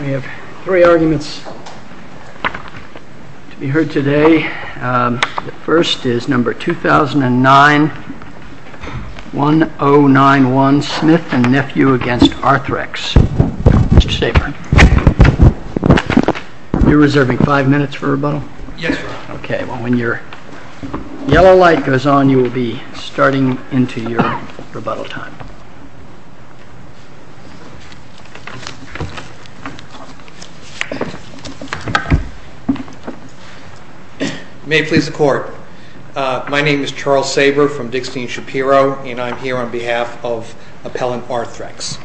We have three arguments to be heard today. The first is number 2009-1091, Smith & Nephew v. Arthrex. Mr. Saber, you're reserving five minutes for rebuttal? Yes. Okay, well when your yellow light goes on you will be starting into your rebuttal time. May it please the court, my name is Charles Saber from Dickstein Shapiro and I'm here on behalf of Appellant Arthrex.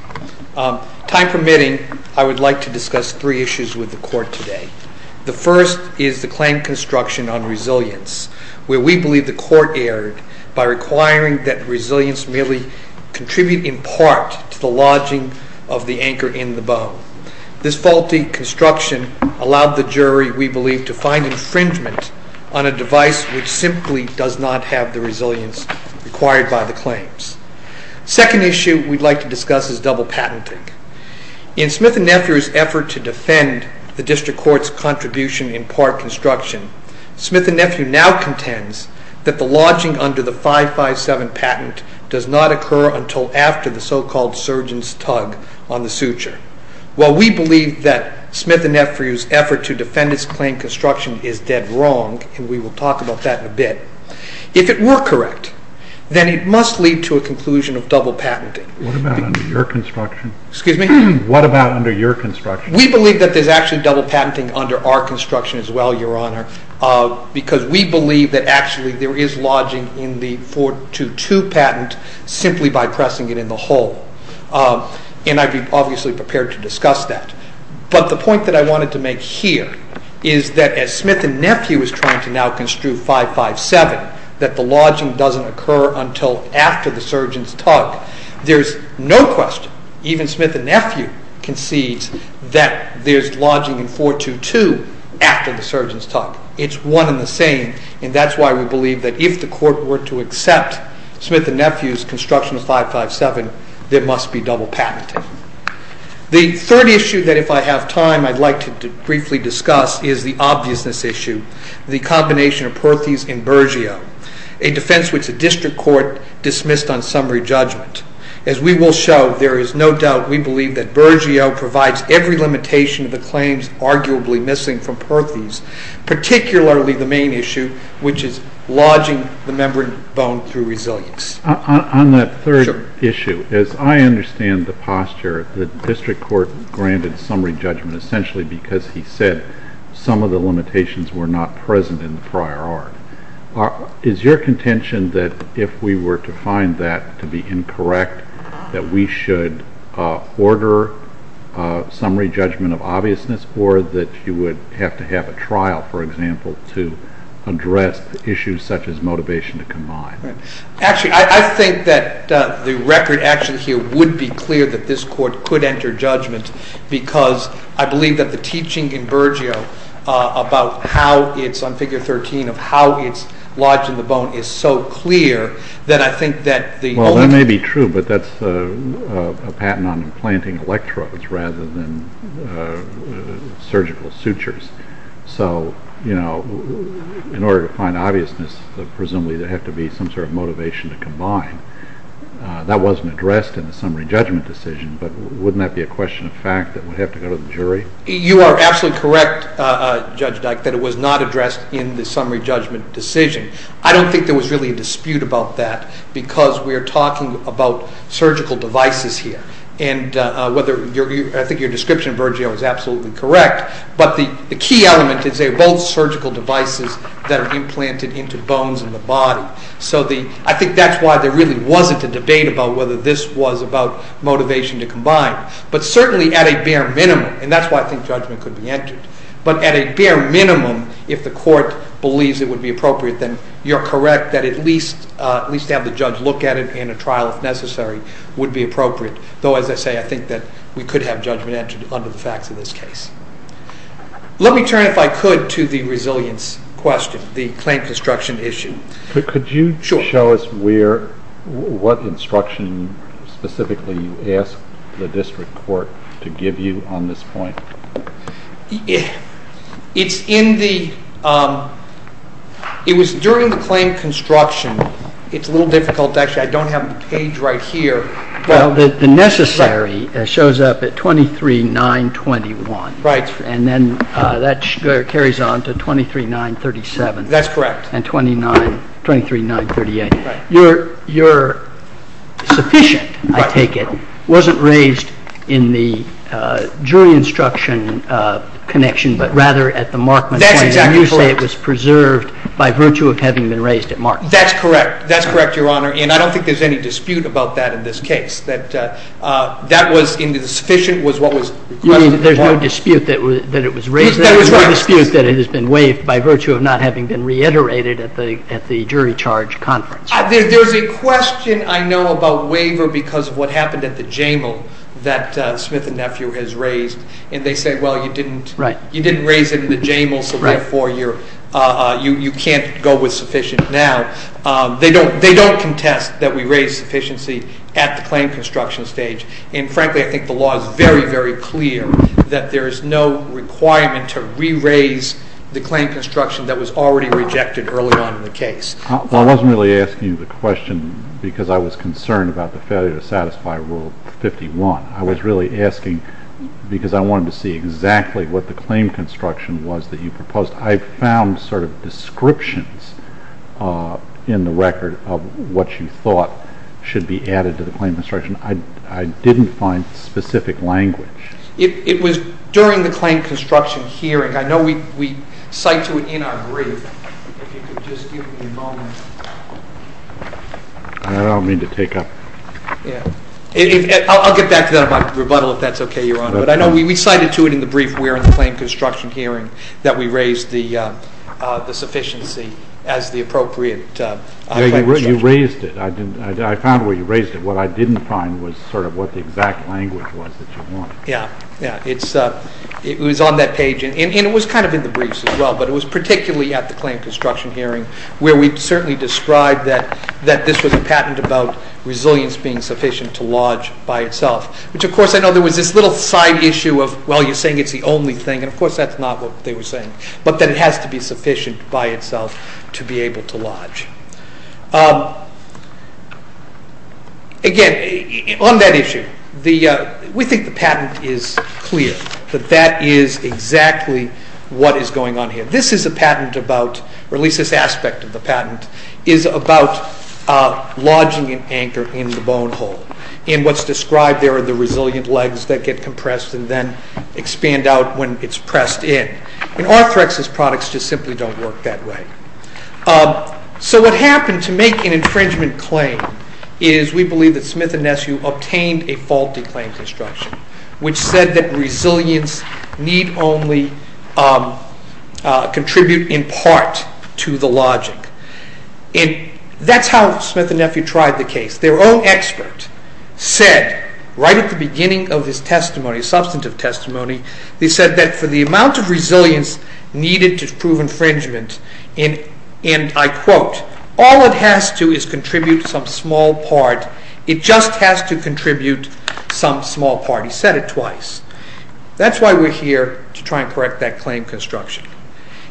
Time permitting, I would like to discuss three issues with the court today. The first is the claim construction on resilience, where we believe the court erred by requiring that resilience merely contribute in part to the lodging of the anchor in the bow. This faulty construction allowed the jury, we believe, to find infringement on a device which simply does not have the resilience required by the claims. The second issue we'd like to discuss is double patenting. In Smith & Nephew's effort to defend the district court's contribution in part construction, Smith & Nephew now contends that the lodging under the 557 patent does not occur until after the so-called surgeon's tug on the suture. While we believe that Smith & Nephew's effort to defend its claim construction is dead wrong, and we will talk about that in a bit, if it were correct, then it must lead to a conclusion of double patenting. What about under your construction? We believe that there's actually double patenting under our construction as well, Your Honor, because we believe that actually there is lodging in the 422 patent simply by pressing it in the hole, and I'd be obviously prepared to discuss that. But the point that I wanted to make here is that as Smith & Nephew is trying to now construe 557, that the lodging doesn't occur until after the surgeon's tug, there's no question, even Smith & Nephew concedes that there's lodging in 422 after the surgeon's tug. It's one and the same, and that's why we believe that if the court were to accept Smith & Nephew's construction of 557, there must be double patenting. The third issue that if I have time I'd like to briefly discuss is the obviousness issue, the combination of Perthes and Bergio, a defense which the district court dismissed on summary judgment. As we will show, there is no doubt we believe that Bergio provides every limitation of the claims arguably missing from Perthes, particularly the main issue, which is lodging the membrane bone through resilience. On that third issue, as I understand the posture, the district court granted summary judgment essentially because he said some of the limitations were not present in the prior art. Is your to find that to be incorrect, that we should order summary judgment of obviousness, or that you would have to have a trial, for example, to address issues such as motivation to combine? Actually, I think that the record action here would be clear that this court could enter judgment because I believe that the teaching in Bergio about how it's on figure 13 of how it's lodged in the bone is so clear that I think that the— Well, that may be true, but that's a patent on implanting electrodes rather than surgical sutures. So, you know, in order to find obviousness, presumably there has to be some sort of motivation to combine. That wasn't addressed in the summary judgment decision, but wouldn't that be a question of fact that would have to go to the jury? You are absolutely correct, Judge Dyke, that it was not addressed in the summary judgment decision. I don't think there was really a dispute about that because we are talking about surgical devices here, and I think your description of Bergio is absolutely correct, but the key element is they're both surgical devices that are implanted into bones in the body. So I think that's why there really wasn't a debate about whether this was about motivation to combine, but certainly at a bare minimum, and that's why I think judgment could be entered, but at a bare minimum, if the court believes it would be appropriate, then you're correct that at least to have the judge look at it in a trial if necessary would be appropriate, though as I say, I think that we could have judgment entered under the facts of this case. Let me turn, if I could, to the resilience question, the claim construction issue. Could you show us what instruction specifically you asked the district court to give you on this point? It's in the, it was during the claim construction, it's a little difficult to actually, I don't have the page right here. Well, the necessary shows up at 23-9-21. Right. And then that carries on to 23-9-37. That's correct. And 23-9-38. Right. Your sufficient, I take it, wasn't raised in the jury instruction connection, but rather at the Markman claim. That's exactly correct. And you say it was preserved by virtue of having been raised at Markman. That's correct. That's correct, Your Honor, and I don't think there's any dispute about that in this case. That was, in the sufficient was what was requested at Markman. You mean there's no dispute that it was raised? That is right. No dispute that it has been waived by virtue of not having been reiterated at the jury charge conference. There's a question I know about waiver because of what happened at the JAMAL that Smith and Nephew has raised, and they say, well, you didn't raise it in the JAMAL, so therefore you can't go with sufficient now. They don't contest that we raise sufficiency at the claim construction stage, and frankly I think the law is very, very clear that there is no requirement to re-raise the claim construction that was already rejected early on in the case. Well, I wasn't really asking you the question because I was concerned about the failure to satisfy Rule 51. I was really asking because I wanted to see exactly what the claim construction was that you proposed. I found sort of descriptions in the record of what you thought should be added to the claim construction. I didn't find specific language. It was during the claim construction hearing. I know we cite to it in our brief. If you could just give me a moment. I don't mean to take up. I'll get back to that in my rebuttal if that's okay, Your Honor. But I know we cited to it in the brief where in the claim construction hearing that we raised the sufficiency as the appropriate claim construction. You raised it. I found where you raised it. What I didn't find was sort of what the exact language was that you wanted. Yeah. It was on that page and it was kind of in the briefs as well, but it was particularly at the claim construction hearing where we certainly described that this was a patent about resilience being sufficient to lodge by itself, which of course I know there was this little side issue of, well, you're saying it's the only thing. Of course, that's not what they were saying, but that it has to be sufficient by itself to be able to lodge. Again, on that issue, we think the patent is clear that that is exactly what is going on here. This is a patent about, or at least this aspect of the patent, is about lodging an anchor in the bone hole. And what's described there are the resilient legs that get compressed and then expand out when it's pressed in. And Arthrex's products just simply don't work that way. So what happened to make an infringement claim is we believe that Smith and Neshew obtained a faulty claim construction, which said that resilience need only contribute in part to the lodging. And that's how Smith and Neshew tried the case. Their own expert said right at the beginning of his testimony, substantive testimony, they said that for the amount of resilience needed to prove infringement, and I quote, all it has to is contribute some small part. It just has to contribute some small part. He said it twice. That's why we're here to try and correct that claim construction.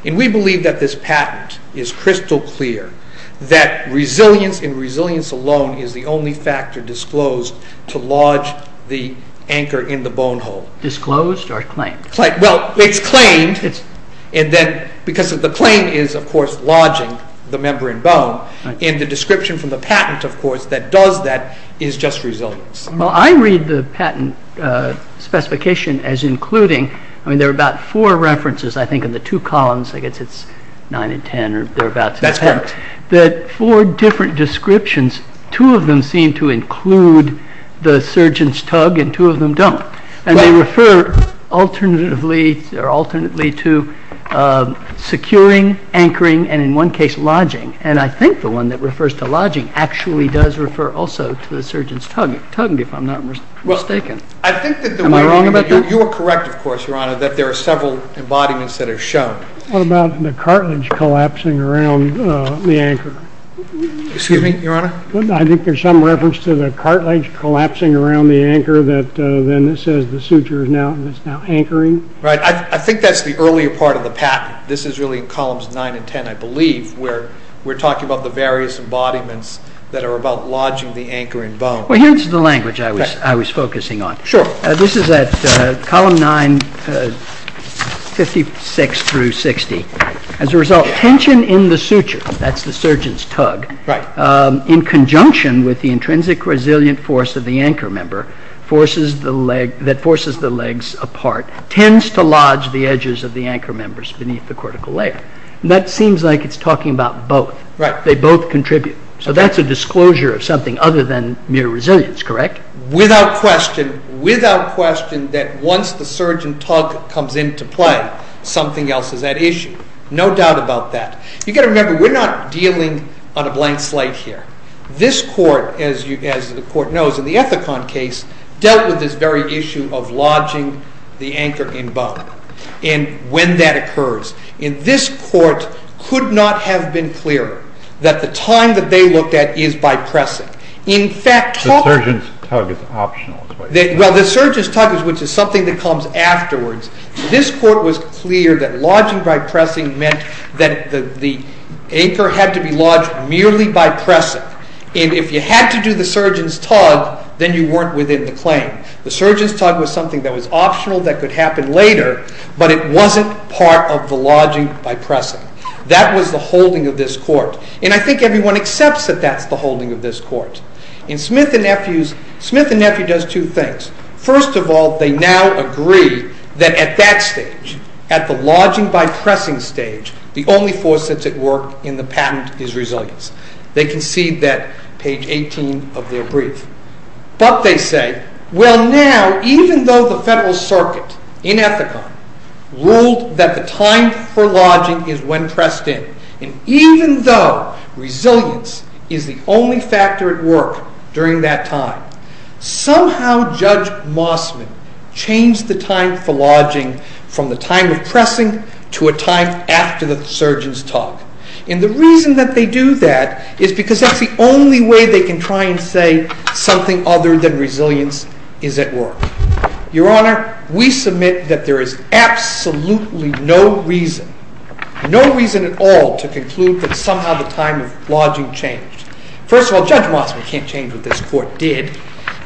And we believe that this patent is crystal clear that resilience and resilience alone is the only factor disclosed to lodge the anchor in the bone hole. Disclosed or claimed? Well, it's claimed. And then because of the claim is, of course, lodging the membrane bone. And the description from the patent, of course, that does that is just resilience. Well, I read the patent specification as including. I mean, there are about four references, I think, in the two columns. I guess it's nine and ten or thereabouts. That's correct. That four different descriptions, two of them seem to include the surgeon's tug and two of them don't. And they refer alternately to securing, anchoring, and in one case, lodging. And I think the one that refers to lodging actually does refer also to the surgeon's tug, if I'm not mistaken. Am I wrong about that? You are correct, of course, Your Honor, that there are several embodiments that are shown. What about the cartilage collapsing around the anchor? Excuse me, Your Honor? I think there's some reference to the cartilage collapsing around the anchor than it says the suture is now anchoring. Right. I think that's the earlier part of the patent. This is really columns nine and ten, I believe, where we're talking about the various embodiments that are about lodging the anchoring bone. Well, here's the language I was focusing on. Sure. This is at column nine, 56 through 60. As a result, tension in the suture, that's the surgeon's tug, in conjunction with the intrinsic resilient force of the anchor member that forces the legs apart, tends to lodge the edges of the anchor members beneath the cortical layer. That seems like it's talking about both. Right. They both contribute. So that's a disclosure of something other than mere resilience, correct? Without question, without question, that once the surgeon tug comes into play, something else is at issue. No doubt about that. You've got to remember, we're not dealing on a blank slate here. This court, as the court knows in the Ethicon case, dealt with this very issue of lodging the anchor in bone. And when that occurs, this court could not have been clearer that the time that they looked at is by pressing. In fact... The surgeon's tug is optional. Well, the surgeon's tug, which is something that comes afterwards, this court was clear that lodging by pressing meant that the anchor had to be lodged merely by pressing. And if you had to do the surgeon's tug, then you weren't within the claim. The surgeon's tug was something that was optional that could happen later, but it wasn't part of the lodging by pressing. That was the holding of this court. And I think everyone accepts that that's the holding of this court. And Smith and Nephew does two things. First of all, they now agree that at that stage, at the lodging by pressing stage, the only force that's at work in the patent is resilience. They concede that, page 18 of their brief. But they say, well, now, even though the Federal Circuit in Ethicon ruled that the time for lodging is when pressed in, and even though resilience is the only factor at work during that time, somehow Judge Mossman changed the time for lodging from the time of pressing to a time after the surgeon's tug. And the reason that they do that is because that's the only way they can try and say something other than resilience is at work. Your Honor, we submit that there is absolutely no reason, no reason at all to conclude that somehow the time of lodging changed. First of all, Judge Mossman can't change what this court did.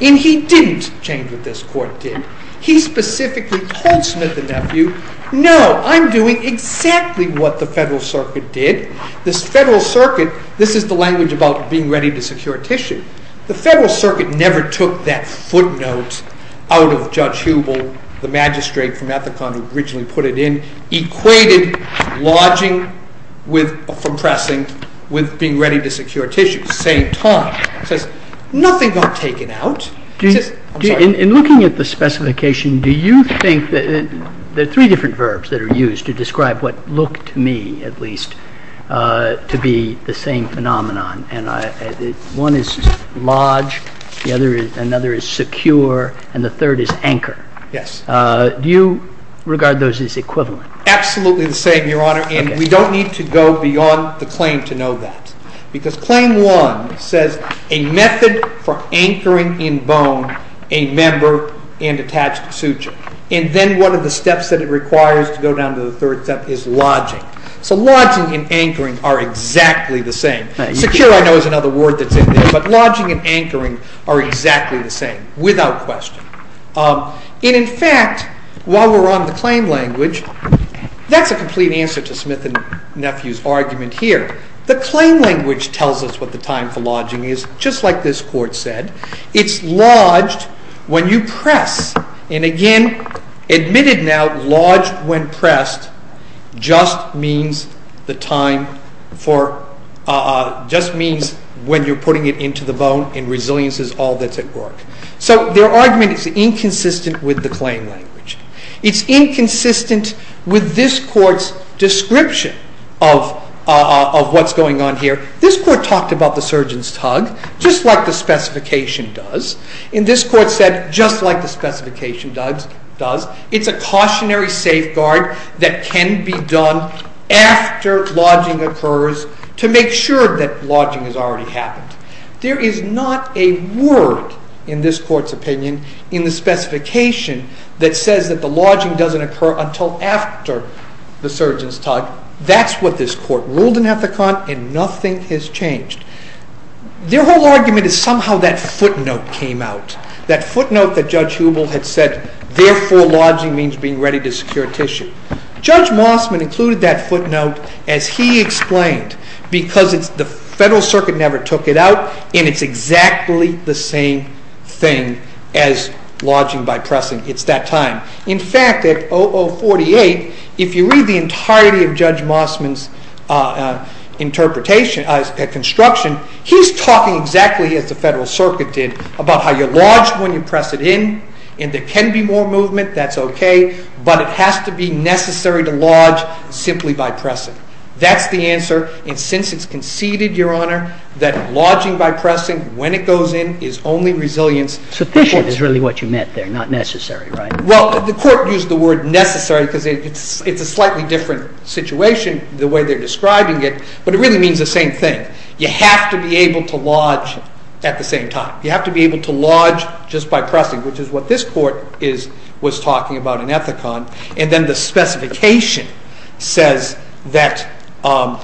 And he didn't change what this court did. He specifically told Smith and Nephew, no, I'm doing exactly what the Federal Circuit did. This Federal Circuit, this is the language about being ready to secure tissue. The Federal Circuit never took that footnote out of Judge Hubel, the magistrate from Ethicon who originally put it in, equated lodging from pressing with being ready to secure tissue at the same time. Nothing got taken out. In looking at the specification, do you think that there are three different verbs that are used to describe what looked to me, at least, to be the same phenomenon. One is lodge, the other is secure, and the third is anchor. Do you regard those as equivalent? Absolutely the same, Your Honor. And we don't need to go beyond the claim to know that. Because Claim 1 says a method for anchoring in bone a member and attached suture. And then one of the steps that it requires to go down to the third step is lodging. So lodging and anchoring are exactly the same. Secure, I know, is another word that's in there, but lodging and anchoring are exactly the same, without question. And in fact, while we're on the claim language, that's a complete answer to Smith and Nephew's argument here. The claim language tells us what the time for lodging is, just like this court said. It's lodged when you press. And again, admitted now, lodged when pressed just means the time for, just means when you're putting it into the bone, and resilience is all that's at work. So their argument is inconsistent with the claim language. It's inconsistent with this court's description of what's going on here. This court talked about the surgeon's tug, just like the specification does. And this court said, just like the specification does, it's a cautionary safeguard that can be done after lodging occurs to make sure that lodging has already happened. There is not a word in this court's opinion that says that the lodging doesn't occur until after the surgeon's tug. That's what this court ruled in Ethicon and nothing has changed. Their whole argument is somehow that footnote came out. That footnote that Judge Hubel had said, therefore lodging means being ready to secure tissue. Judge Mossman included that footnote as he explained, because the Federal Circuit never took it out and it's exactly the same thing as lodging by pressing. It's that time. In fact, at 0048, if you read the entirety of Judge Mossman's construction, he's talking exactly as the Federal Circuit did about how you lodge when you press it in and there can be more movement, that's okay, but it has to be necessary to lodge simply by pressing. That's the answer. And since it's conceded, Your Honor, that lodging by pressing when it goes in is only resilience. Sufficient is really what you meant there, not necessary, right? Well, the court used the word necessary because it's a slightly different situation the way they're describing it, but it really means the same thing. You have to be able to lodge at the same time. You have to be able to lodge just by pressing, which is what this court was talking about in Ethicon. And then the specification says that the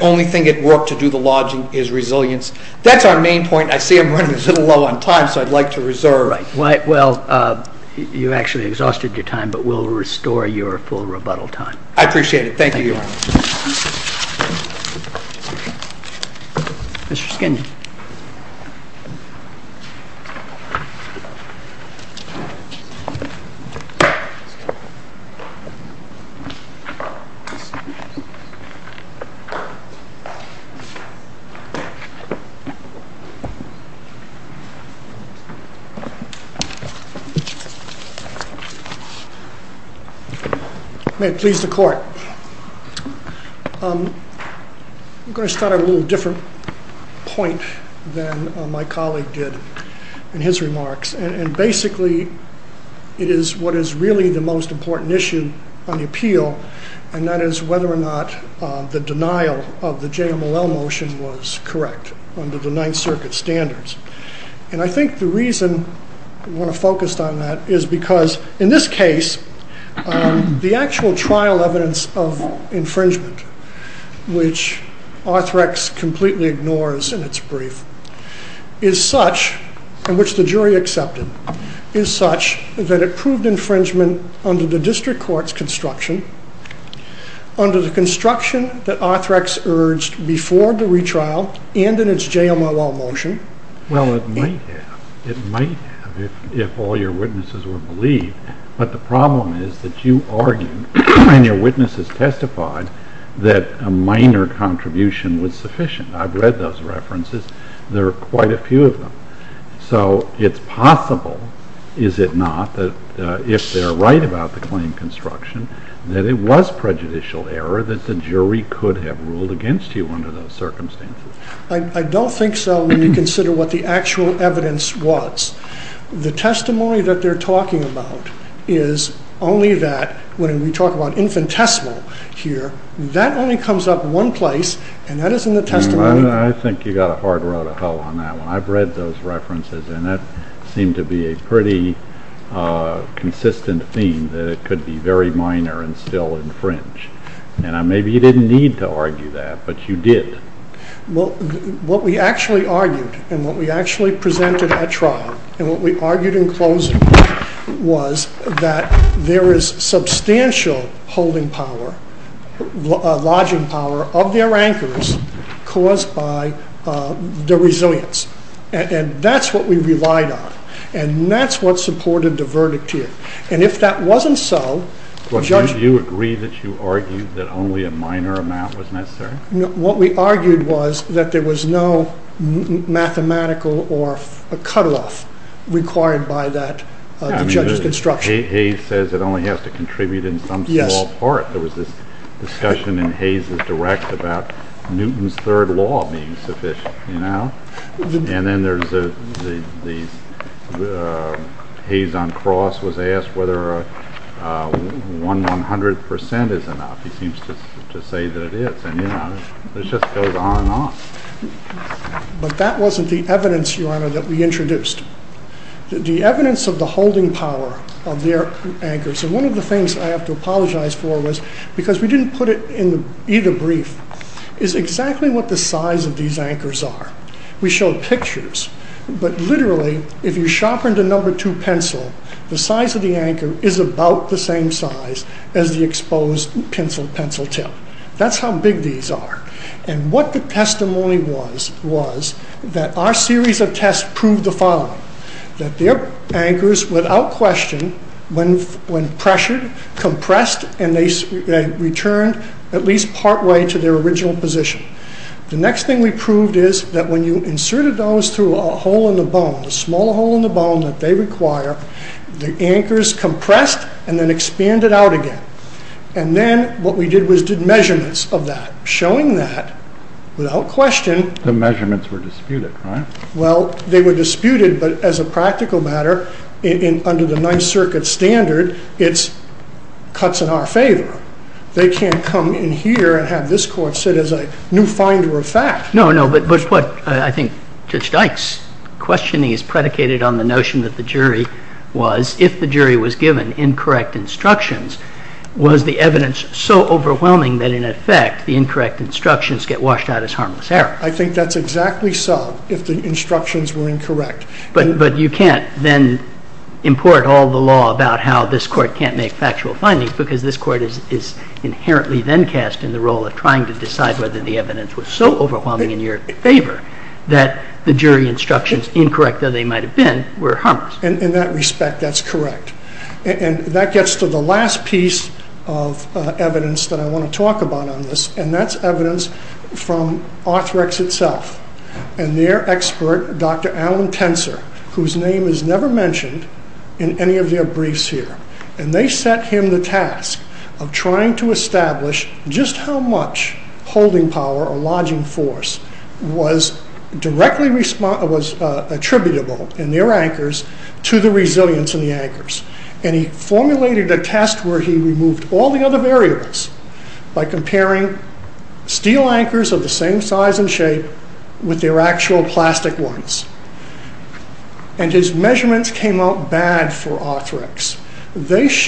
only thing that worked to do the lodging is resilience. That's our main point. I see I'm running a little low on time, so I'd like to reserve. You're right. Well, you actually exhausted your time, but we'll restore your full rebuttal time. I appreciate it. Thank you, Your Honor. Mr. Skinner. May it please the court. I'm going to start on a little different point than my colleague did in his remarks, and basically it is what is really the most important issue on the appeal, and that is whether or not the denial of the JMLL motion was correct under the Ninth Circuit standards. And I think the reason I want to focus on that is because in this case, the actual trial evidence of infringement, which Arthrex completely ignores in its brief, is such, and which the jury accepted, is such that it proved infringement under the district court's construction, under the construction that Arthrex urged before the retrial and in its JMLL motion. Well, it might have. It might have if all your witnesses were believed, but the problem is that you argued and your witnesses testified that a minor contribution was sufficient. I've read those references. There are quite a few of them. So it's possible, is it not, that if they're right about the claim construction, that it was prejudicial error that the jury could have ruled against you under those circumstances? I don't think so when you consider what the actual evidence was. The testimony that they're talking about is only that, when we talk about infinitesimal here, that only comes up one place, and that is in the testimony... I think you got a hard road to hoe on that one. I've read those references, and that seemed to be a pretty consistent theme that it could be very minor and still infringe. And maybe you didn't need to argue that, but you did. Well, what we actually argued and what we actually presented at trial and what we argued in closing was that there is substantial holding power, lodging power of their anchors caused by their resilience. And that's what we relied on, and that's what supported the verdict here. And if that wasn't so... Do you agree that you argued that only a minor amount was necessary? No, what we argued was that there was no mathematical or cut-off required by the judge's construction. Hayes says it only has to contribute in some small part. There was this discussion in Hayes' direct about Newton's third law being sufficient. And then Hayes on cross was asked whether 100% is enough. He seems to say that it is, and, you know, it just goes on and on. But that wasn't the evidence, Your Honor, that we introduced. The evidence of the holding power of their anchors... And one of the things I have to apologize for was because we didn't put it in either brief, is exactly what the size of these anchors are. We showed pictures, but literally, if you sharpened a number 2 pencil, the size of the anchor is about the same size as the exposed pencil tip. That's how big these are. And what the testimony was was that our series of tests proved the following. That their anchors, without question, when pressured, compressed, and they returned at least partway to their original position. The next thing we proved is that when you inserted those through a hole in the bone, a small hole in the bone that they require, the anchors compressed and then expanded out again. And then what we did was did measurements of that, showing that, without question... The measurements were disputed, right? Well, they were disputed, but as a practical matter, under the Ninth Circuit standard, it cuts in our favor. They can't come in here and have this court sit as a new finder of fact. No, no, but what I think Judge Dykes' questioning is predicated on the notion that the jury was, if the jury was given incorrect instructions, was the evidence so overwhelming that, in effect, the incorrect instructions get washed out as harmless error. I think that's exactly so, if the instructions were incorrect. But you can't then import all the law about how this court can't make factual findings because this court is inherently then cast in the role of trying to decide whether the evidence was so overwhelming in your favor that the jury instructions, incorrect as they might have been, were harmless. In that respect, that's correct. And that gets to the last piece of evidence that I want to talk about on this, and that's evidence from Arthrex itself and their expert, Dr Alan Tenser, whose name is never mentioned in any of their briefs here. And they set him the task of trying to establish just how much holding power or lodging force was directly attributable in their anchors to the resilience in the anchors. And he formulated a test where he removed all the other variables by comparing steel anchors of the same size and shape with their actual plastic ones. And his measurements came out bad for Arthrex. Does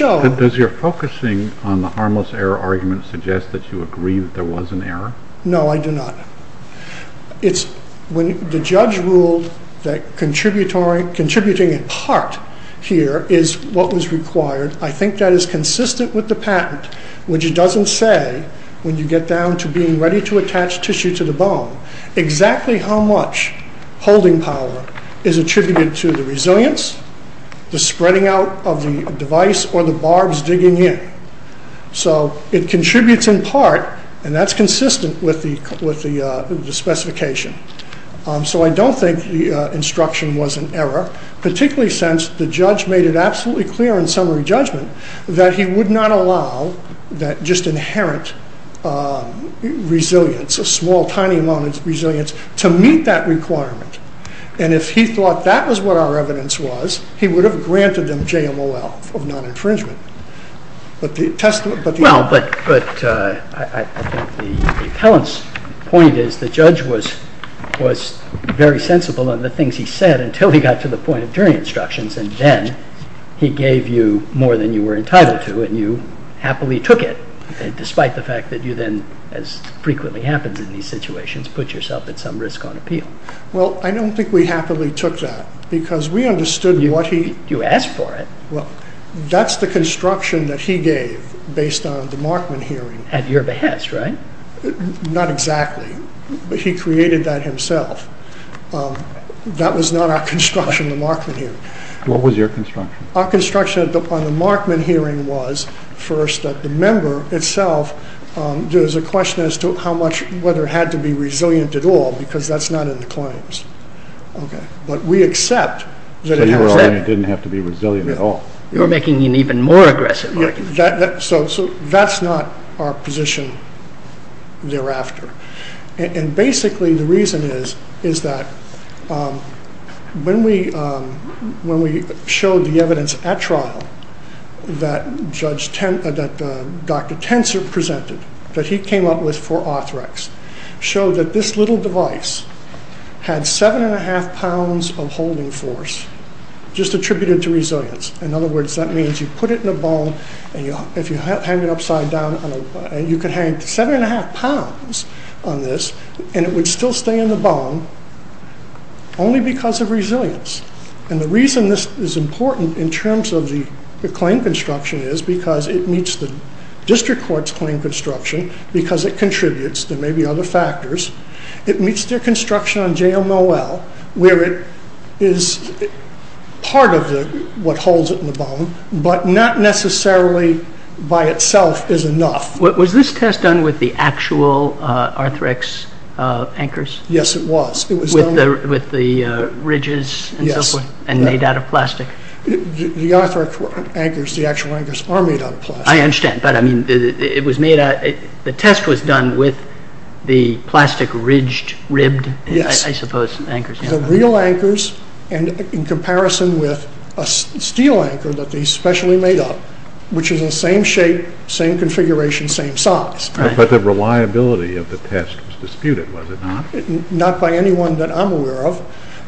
your focusing on the harmless error argument suggest that you agree that there was an error? No, I do not. The judge ruled that contributing in part here is what was required. I think that is consistent with the patent, which it doesn't say when you get down to being ready to attach tissue to the bone exactly how much holding power is attributed to the resilience, the spreading out of the device, or the barbs digging in. So it contributes in part, and that's consistent with the specification. So I don't think the instruction was an error, particularly since the judge made it absolutely clear in summary judgment that he would not allow just inherent resilience, a small, tiny amount of resilience, to meet that requirement. And if he thought that was what our evidence was, he would have granted them JMOL of non-infringement. Well, but I think the appellant's point is the judge was very sensible on the things he said until he got to the point of jury instructions, and then he gave you more than you were entitled to, and you happily took it, despite the fact that you then, as frequently happens in these situations, put yourself at some risk on appeal. Well, I don't think we happily took that, because we understood what he... You asked for it. Well, that's the construction that he gave based on the Markman hearing. At your behest, right? Not exactly. He created that himself. That was not our construction, the Markman hearing. What was your construction? Our construction on the Markman hearing was, first, that the member itself, there's a question as to how much, whether it had to be resilient at all, because that's not in the claims. But we accept that it has that... So you were arguing it didn't have to be resilient at all. You're making an even more aggressive argument. So that's not our position thereafter. And basically, the reason is, is that when we showed the evidence at trial that Dr. Tenser presented, that he came up with for orthorex, showed that this little device had 7 1⁄2 pounds of holding force, just attributed to resilience. In other words, that means you put it in a bone, and if you hang it upside down, you can hang 7 1⁄2 pounds on this, and it would still stay in the bone, only because of resilience. And the reason this is important in terms of the claim construction is because it meets the district court's claim construction, because it contributes. There may be other factors. It meets their construction on JOMOL, where it is part of what holds it in the bone, but not necessarily by itself is enough. Was this test done with the actual orthorex anchors? Yes, it was. With the ridges and so forth? Yes. And made out of plastic? The orthorex anchors, the actual anchors, are made out of plastic. I understand. The test was done with the plastic ridged, ribbed, I suppose, anchors. The real anchors, and in comparison with a steel anchor that they specially made up, which is the same shape, same configuration, same size. But the reliability of the test was disputed, was it not? Not by anyone that I'm aware of.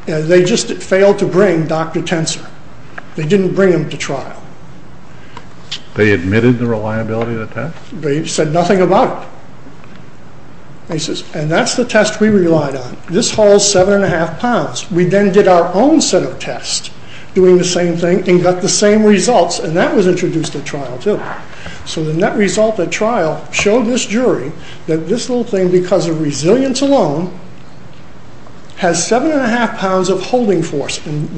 They just failed to bring Dr. Tenser. They didn't bring him to trial. They admitted the reliability of the test? They said nothing about it. And that's the test we relied on. This holds 7 1⁄2 pounds. We then did our own set of tests doing the same thing and got the same results, and that was introduced at trial too. So the net result at trial showed this jury that this little thing, because of resilience alone, has 7 1⁄2 pounds of holding force. Of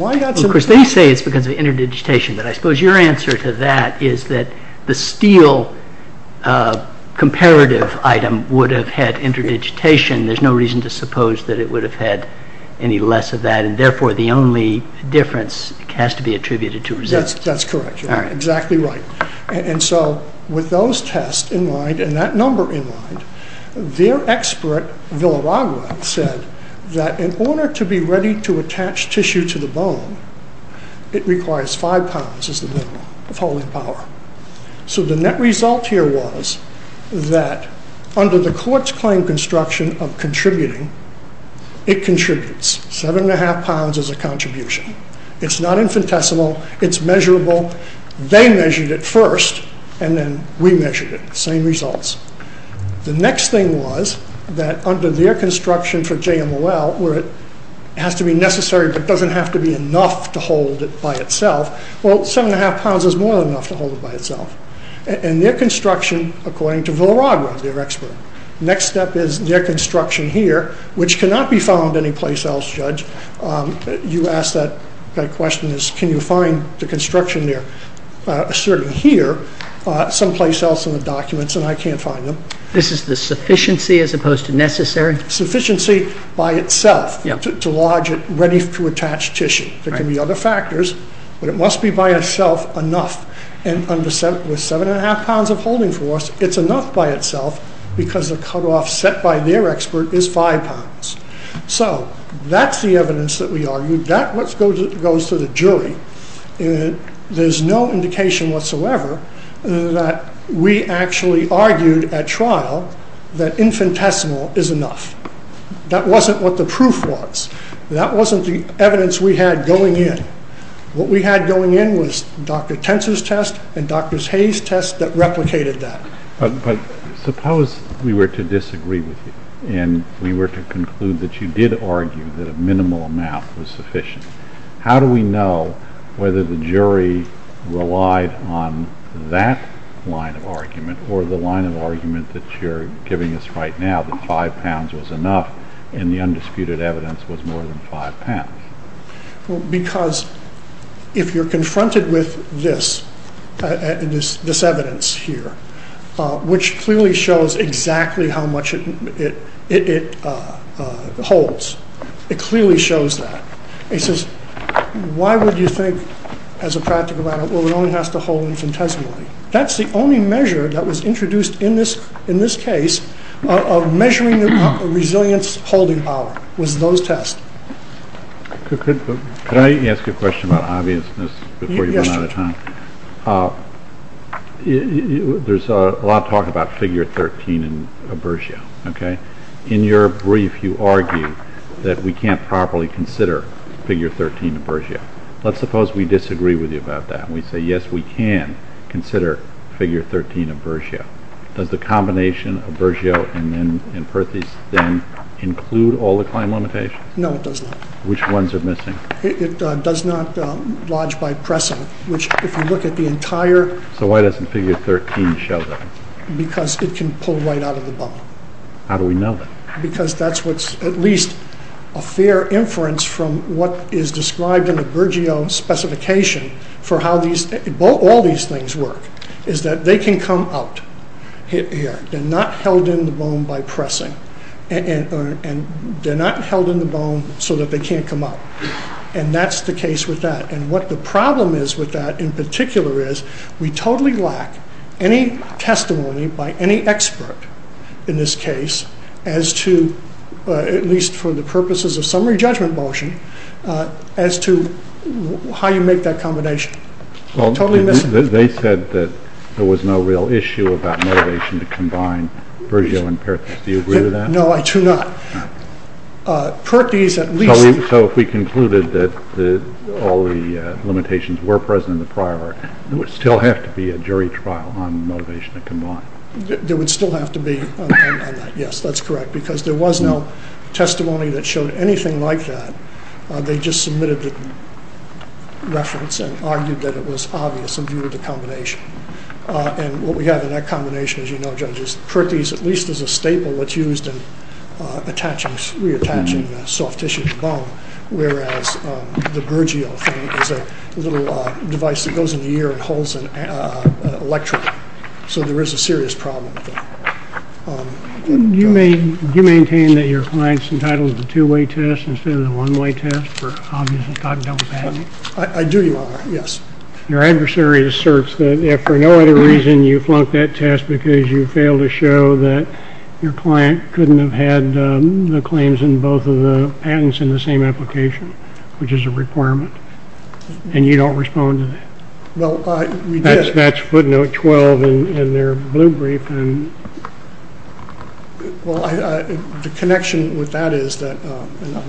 course, they say it's because of interdigitation, but I suppose your answer to that is that the steel comparative item would have had interdigitation. There's no reason to suppose that it would have had any less of that, and therefore the only difference has to be attributed to resilience. That's correct. You're exactly right. And so with those tests in mind, and that number in mind, their expert, Villaragua, said that in order to be ready to attach tissue to the bone, it requires 5 pounds as the minimum of holding power. So the net result here was that under the court's claim construction of contributing, it contributes. 7 1⁄2 pounds is a contribution. It's not infinitesimal. It's measurable. They measured it first, and then we measured it. Same results. The next thing was that under their construction for JMOL, where it has to be necessary but doesn't have to be enough to hold it by itself, well, 7 1⁄2 pounds is more than enough to hold it by itself. And their construction, according to Villaragua, their expert, next step is their construction here, which cannot be found anyplace else, Judge. You asked that question, can you find the construction there, certainly here, someplace else in the documents, and I can't find them. This is the sufficiency as opposed to necessary? Sufficiency by itself. To lodge it ready to attach tissue. There can be other factors, but it must be by itself enough. And under 7 1⁄2 pounds of holding force, it's enough by itself because the cutoff set by their expert is 5 pounds. So that's the evidence that we argued. That goes to the jury. There's no indication whatsoever that we actually argued at trial that infinitesimal is enough. That wasn't what the proof was. That wasn't the evidence we had going in. What we had going in was Dr. Tentz's test and Dr. Hayes' test that replicated that. But suppose we were to disagree with you and we were to conclude that you did argue that a minimal amount was sufficient. How do we know whether the jury relied on that line of argument or the line of argument that you're giving us right now, that 5 pounds was enough and the undisputed evidence was more than 5 pounds? Well, because if you're confronted with this, this evidence here, which clearly shows exactly how much it holds. It clearly shows that. It says, why would you think as a practical matter, well, it only has to hold infinitesimally. That's the only measure that was introduced in this case of measuring the resilience-holding power was those tests. Could I ask a question about obviousness before you run out of time? There's a lot of talk about figure 13 in aversio. In your brief, you argue that we can't properly consider figure 13 aversio. Let's suppose we disagree with you about that and we say, yes, we can consider figure 13 aversio. Does the combination of aversio and Perthes then include all the claim limitations? No, it does not. Which ones are missing? It does not lodge by precedent, which if you look at the entire... So why doesn't figure 13 show that? Because it can pull right out of the bubble. How do we know that? Because that's what's at least a fair inference from what is described in the aversio specification for how all these things work is that they can come out here. They're not held in the bone by pressing. And they're not held in the bone so that they can't come out. And that's the case with that. And what the problem is with that in particular is we totally lack any testimony by any expert in this case as to, at least for the purposes of summary judgment motion, as to how you make that combination. They said that there was no real issue about motivation to combine aversio and Perthes. Do you agree with that? No, I do not. Perthes at least... So if we concluded that all the limitations were present in the prior, there would still have to be a jury trial on motivation to combine. There would still have to be on that. Yes, that's correct. Because there was no testimony that showed anything like that. They just submitted the reference and argued that it was obvious in view of the combination. And what we have in that combination, as you know, judges, Perthes at least is a staple that's used in reattaching soft tissue to bone, whereas the Burgio thing is a little device that goes in the ear and holds an electrode. So there is a serious problem with that. Do you maintain that your client's entitled to the two-way test instead of the one-way test for obvious conduct of the patent? I do, Your Honor, yes. Your adversary asserts that if for no other reason you flunked that test because you failed to show that your client couldn't have had the claims in both of the patents in the same application, which is a requirement, and you don't respond to that. Well, we did. That's footnote 12 in their blue brief. Well, the connection with that is that...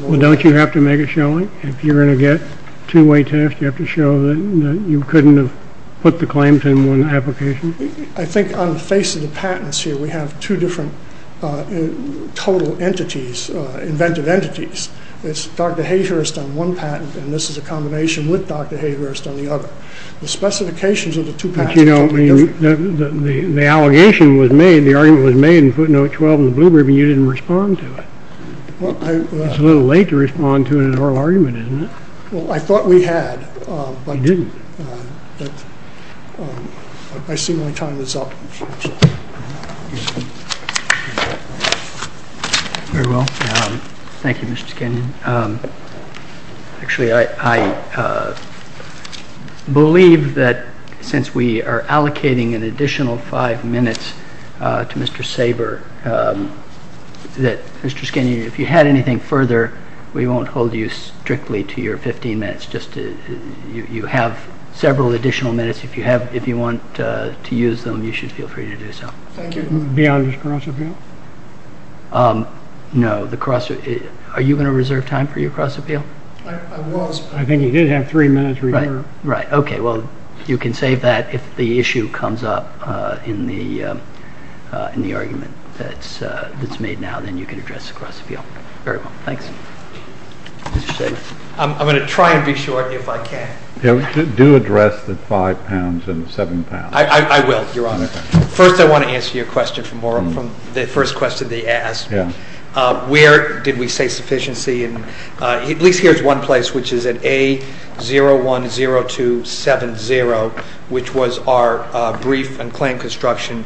Well, don't you have to make it showing? If you're going to get a two-way test, you have to show that you couldn't have put the claims in one application? I think on the face of the patents here, we have two different total entities, inventive entities. It's Dr. Hayhurst on one patent, and this is a combination with Dr. Hayhurst on the other. The specifications of the two patents are totally different. But, you know, the allegation was made, the argument was made in footnote 12 in the blue brief, and you didn't respond to it. It's a little late to respond to an oral argument, isn't it? Well, I thought we had, but... You didn't. I see my time is up. Very well. Thank you, Mr. Skinner. Actually, I believe that since we are allocating an additional five minutes to Mr. Saber, that Mr. Skinner, if you had anything further, we won't hold you strictly to your 15 minutes. You have several additional minutes. If you want to use them, you should feel free to do so. Beyond this crossover? No. Are you going to reserve time for your cross-appeal? I was, but... I think you did have three minutes reserved. Right. Okay. Well, you can save that if the issue comes up in the argument that's made now. Then you can address the cross-appeal. Very well. Thanks. Mr. Saber. I'm going to try and be short if I can. Do address the five pounds and the seven pounds. I will. You're on. First, I want to answer your question from the first question they asked. Where did we say sufficiency? At least here's one place, which is at A010270, which was our brief and claim construction,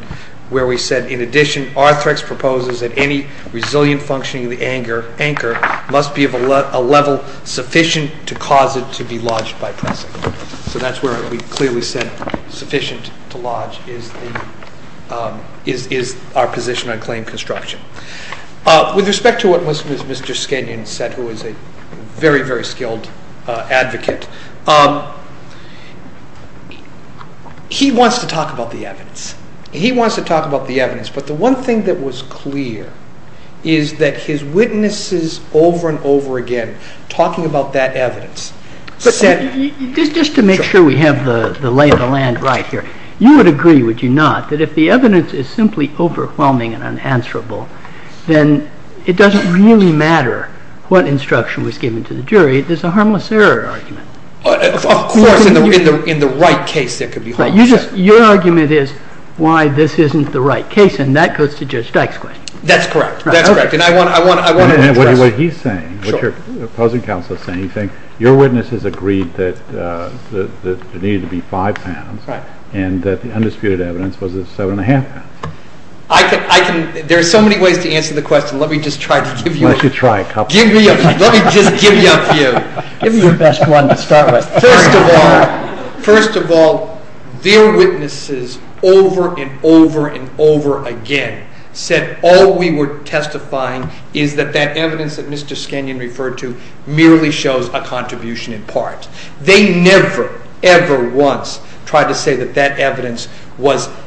where we said, in addition, Arthrex proposes that any resilient functioning of the anchor must be of a level sufficient to cause it to be lodged by pressing. So that's where we clearly said sufficient to lodge is our position on claim construction. With respect to what Mr. Skenyon said, who is a very, very skilled advocate, he wants to talk about the evidence. He wants to talk about the evidence. But the one thing that was clear is that his witnesses over and over again, talking about that evidence, said... Just to make sure we have the lay of the land right here, you would agree, would you not, that if the evidence is simply overwhelming and unanswerable, then it doesn't really matter what instruction was given to the jury. There's a harmless error argument. Of course. In the right case, there could be harmless error. Your argument is why this isn't the right case, and that goes to Judge Dyke's question. That's correct. That's correct. And I want to address... What he's saying, what your opposing counsel is saying, your witness has agreed that there needed to be 5 pounds and that the undisputed evidence was 7½ pounds. I can... There are so many ways to answer the question. Let me just try to give you... Let you try a couple. Let me just give you a few. Give me your best one to start with. First of all, their witnesses over and over and over again said all we were testifying is that that evidence that Mr. Skenyon referred to clearly shows a contribution in part. They never, ever once tried to say that that evidence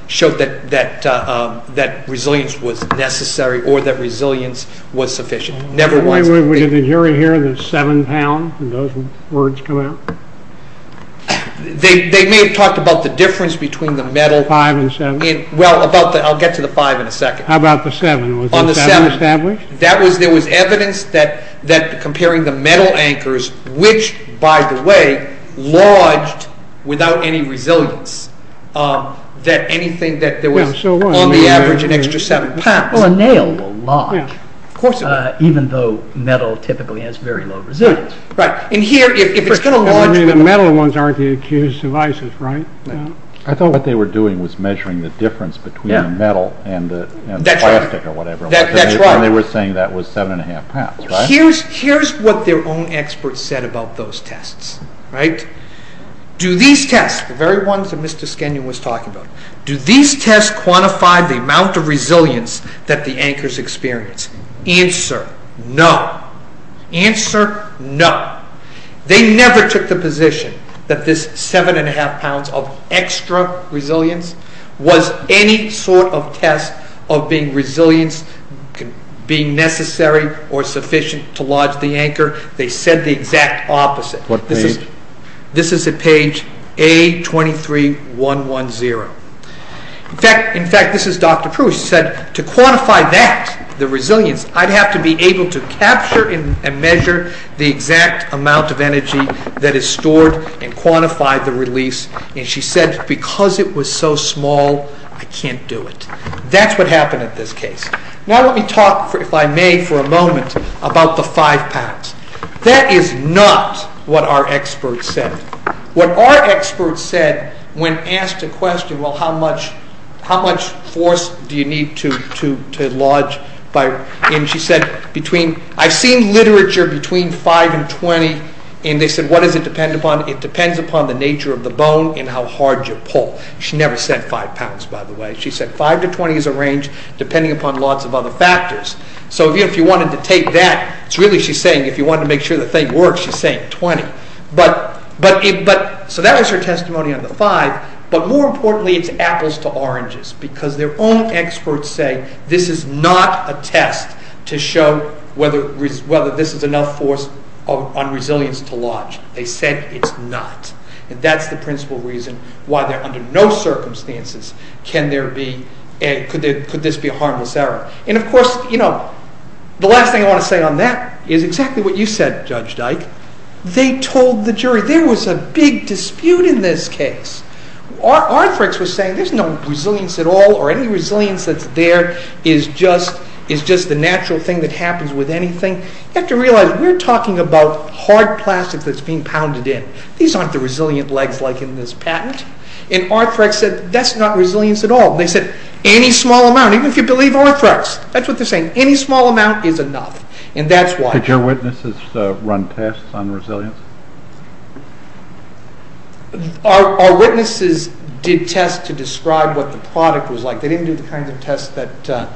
showed that resilience was necessary or that resilience was sufficient. Never once. Wait, wait, wait. Did the jury hear the 7 pound? Did those words come out? They may have talked about the difference between the metal... 5 and 7? Well, I'll get to the 5 in a second. How about the 7? Was the 7 established? There was evidence that comparing the metal anchors, which, by the way, lodged without any resilience, that anything that there was on the average an extra 7 pounds... Well, a nail will lodge, even though metal typically has very low resilience. Right. And here, if it's going to lodge... The metal ones aren't the accused devices, right? No. I thought what they were doing was measuring the difference between the metal and the plastic or whatever. That's right. And they were saying that was 7 1⁄2 pounds, right? Here's what their own experts said about those tests, right? Do these tests, the very ones that Mr. Skenyon was talking about, do these tests quantify the amount of resilience that the anchors experience? Answer, no. Answer, no. They never took the position that this 7 1⁄2 pounds of extra resilience was any sort of test of being resilient, being necessary or sufficient to lodge the anchor. They said the exact opposite. What page? This is at page A23110. In fact, this is Dr. Proust. She said, to quantify that, the resilience, I'd have to be able to capture and measure the exact amount of energy that is stored and quantify the release. And she said, because it was so small, I can't do it. That's what happened at this case. Now let me talk, if I may, for a moment about the 5 pounds. That is not what our experts said. What our experts said when asked a question, well, how much force do you need to lodge? And she said, I've seen literature between 5 and 20, and they said, what does it depend upon? It depends upon the nature of the bone and how hard you pull. She never said 5 pounds, by the way. She said 5 to 20 is a range, depending upon lots of other factors. So if you wanted to take that, it's really, she's saying, if you want to make sure the thing works, she's saying 20. So that was her testimony on the 5, but more importantly, it's apples to oranges, because their own experts say this is not a test to show whether this is enough force on resilience to lodge. They said it's not. And that's the principal reason why under no circumstances can there be, could this be a harmless error. And of course, you know, the last thing I want to say on that is exactly what you said, Judge Dyke. They told the jury there was a big dispute in this case. Our experts were saying there's no resilience at all or any resilience that's there is just the natural thing that happens with anything. You have to realize we're talking about hard plastic that's being pounded in. These aren't the resilient legs like in this patent. And Arthrex said that's not resilience at all. They said any small amount, even if you believe Arthrex, that's what they're saying, any small amount is enough. And that's why. Did your witnesses run tests on resilience? Our witnesses did tests to describe what the product was like. They didn't do the kinds of tests that,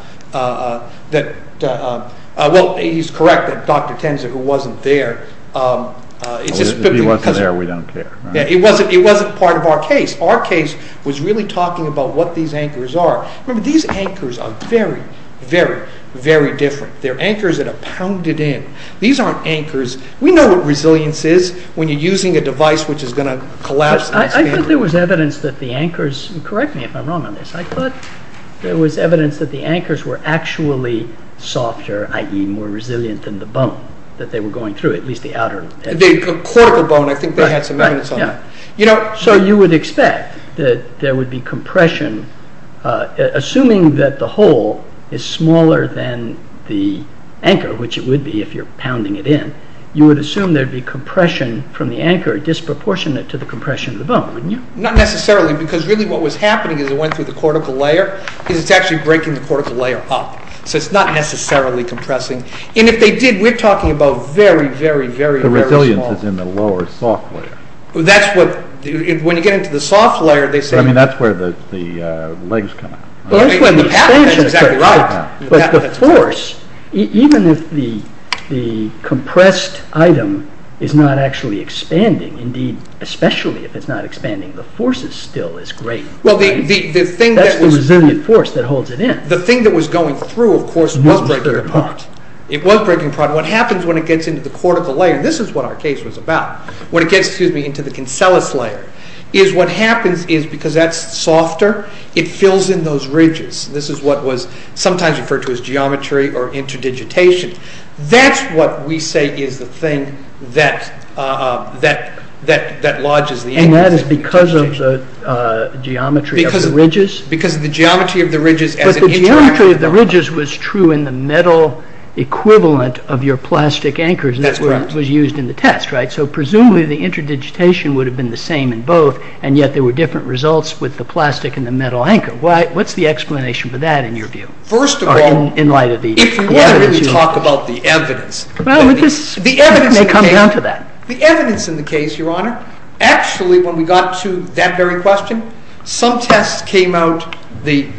well, he's correct that Dr. Tenzer, who wasn't there. If he wasn't there, we don't care. It wasn't part of our case. Our case was really talking about what these anchors are. Remember, these anchors are very, very, very different. They're anchors that are pounded in. These aren't anchors. We know what resilience is when you're using a device which is going to collapse. I thought there was evidence that the anchors, correct me if I'm wrong on this, I thought there was evidence that the anchors were actually softer, i.e., more resilient than the bone that they were going through, at least the outer. The cortical bone, I think they had some evidence on that. So you would expect that there would be compression, assuming that the hole is smaller than the anchor, which it would be if you're pounding it in, you would assume there'd be compression from the anchor disproportionate to the compression of the bone. Not necessarily, because really what was happening as it went through the cortical layer is it's actually breaking the cortical layer up. So it's not necessarily compressing. And if they did, we're talking about very, very, very small... The resilience is in the lower soft layer. That's what... When you get into the soft layer, they say... I mean, that's where the legs come out. That's exactly right. But the force, even if the compressed item is not actually expanding, indeed, especially if it's not expanding, the force is still as great. That's the resilient force that holds it in. The thing that was going through, of course, was breaking apart. It was breaking apart. What happens when it gets into the cortical layer, this is what our case was about, when it gets into the cancellous layer, is what happens is because that's softer, it fills in those ridges. This is what was sometimes referred to as geometry or interdigitation. That's what we say is the thing that lodges the anchor. And that is because of the geometry of the ridges? Because of the geometry of the ridges... But the geometry of the ridges was true in the metal equivalent of your plastic anchors that was used in the test, right? So, presumably, the interdigitation would have been the same in both, and yet there were different results with the plastic and the metal anchor. What's the explanation for that in your view? First of all... In light of the... If you want to really talk about the evidence... Well, we can come down to that. The evidence in the case, Your Honor, actually, when we got to that very question, some tests came out the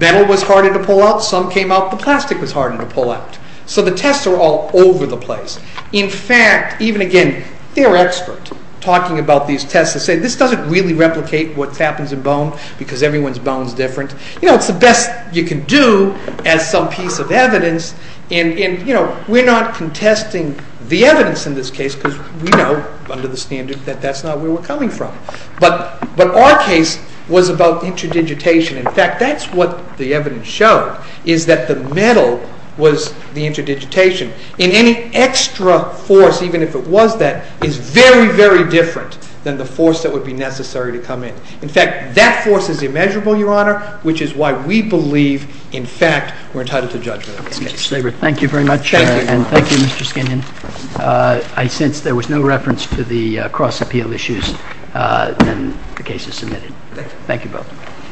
metal was harder to pull out, some came out the plastic was harder to pull out. So the tests are all over the place. In fact, even again, they're experts talking about these tests that say this doesn't really replicate what happens in bone, because everyone's bone is different. You know, it's the best you can do as some piece of evidence. And, you know, we're not contesting the evidence in this case, because we know under the standard that that's not where we're coming from. But our case was about interdigitation. In fact, that's what the evidence showed, is that the metal was the interdigitation. And any extra force, even if it was that, is very, very different than the force that would be necessary to come in. In fact, that force is immeasurable, Your Honor, which is why we believe, in fact, we're entitled to judgment. Thank you very much. And thank you, Mr. Skinion. I sense there was no reference to the cross-appeal issues when the case was submitted. Thank you both.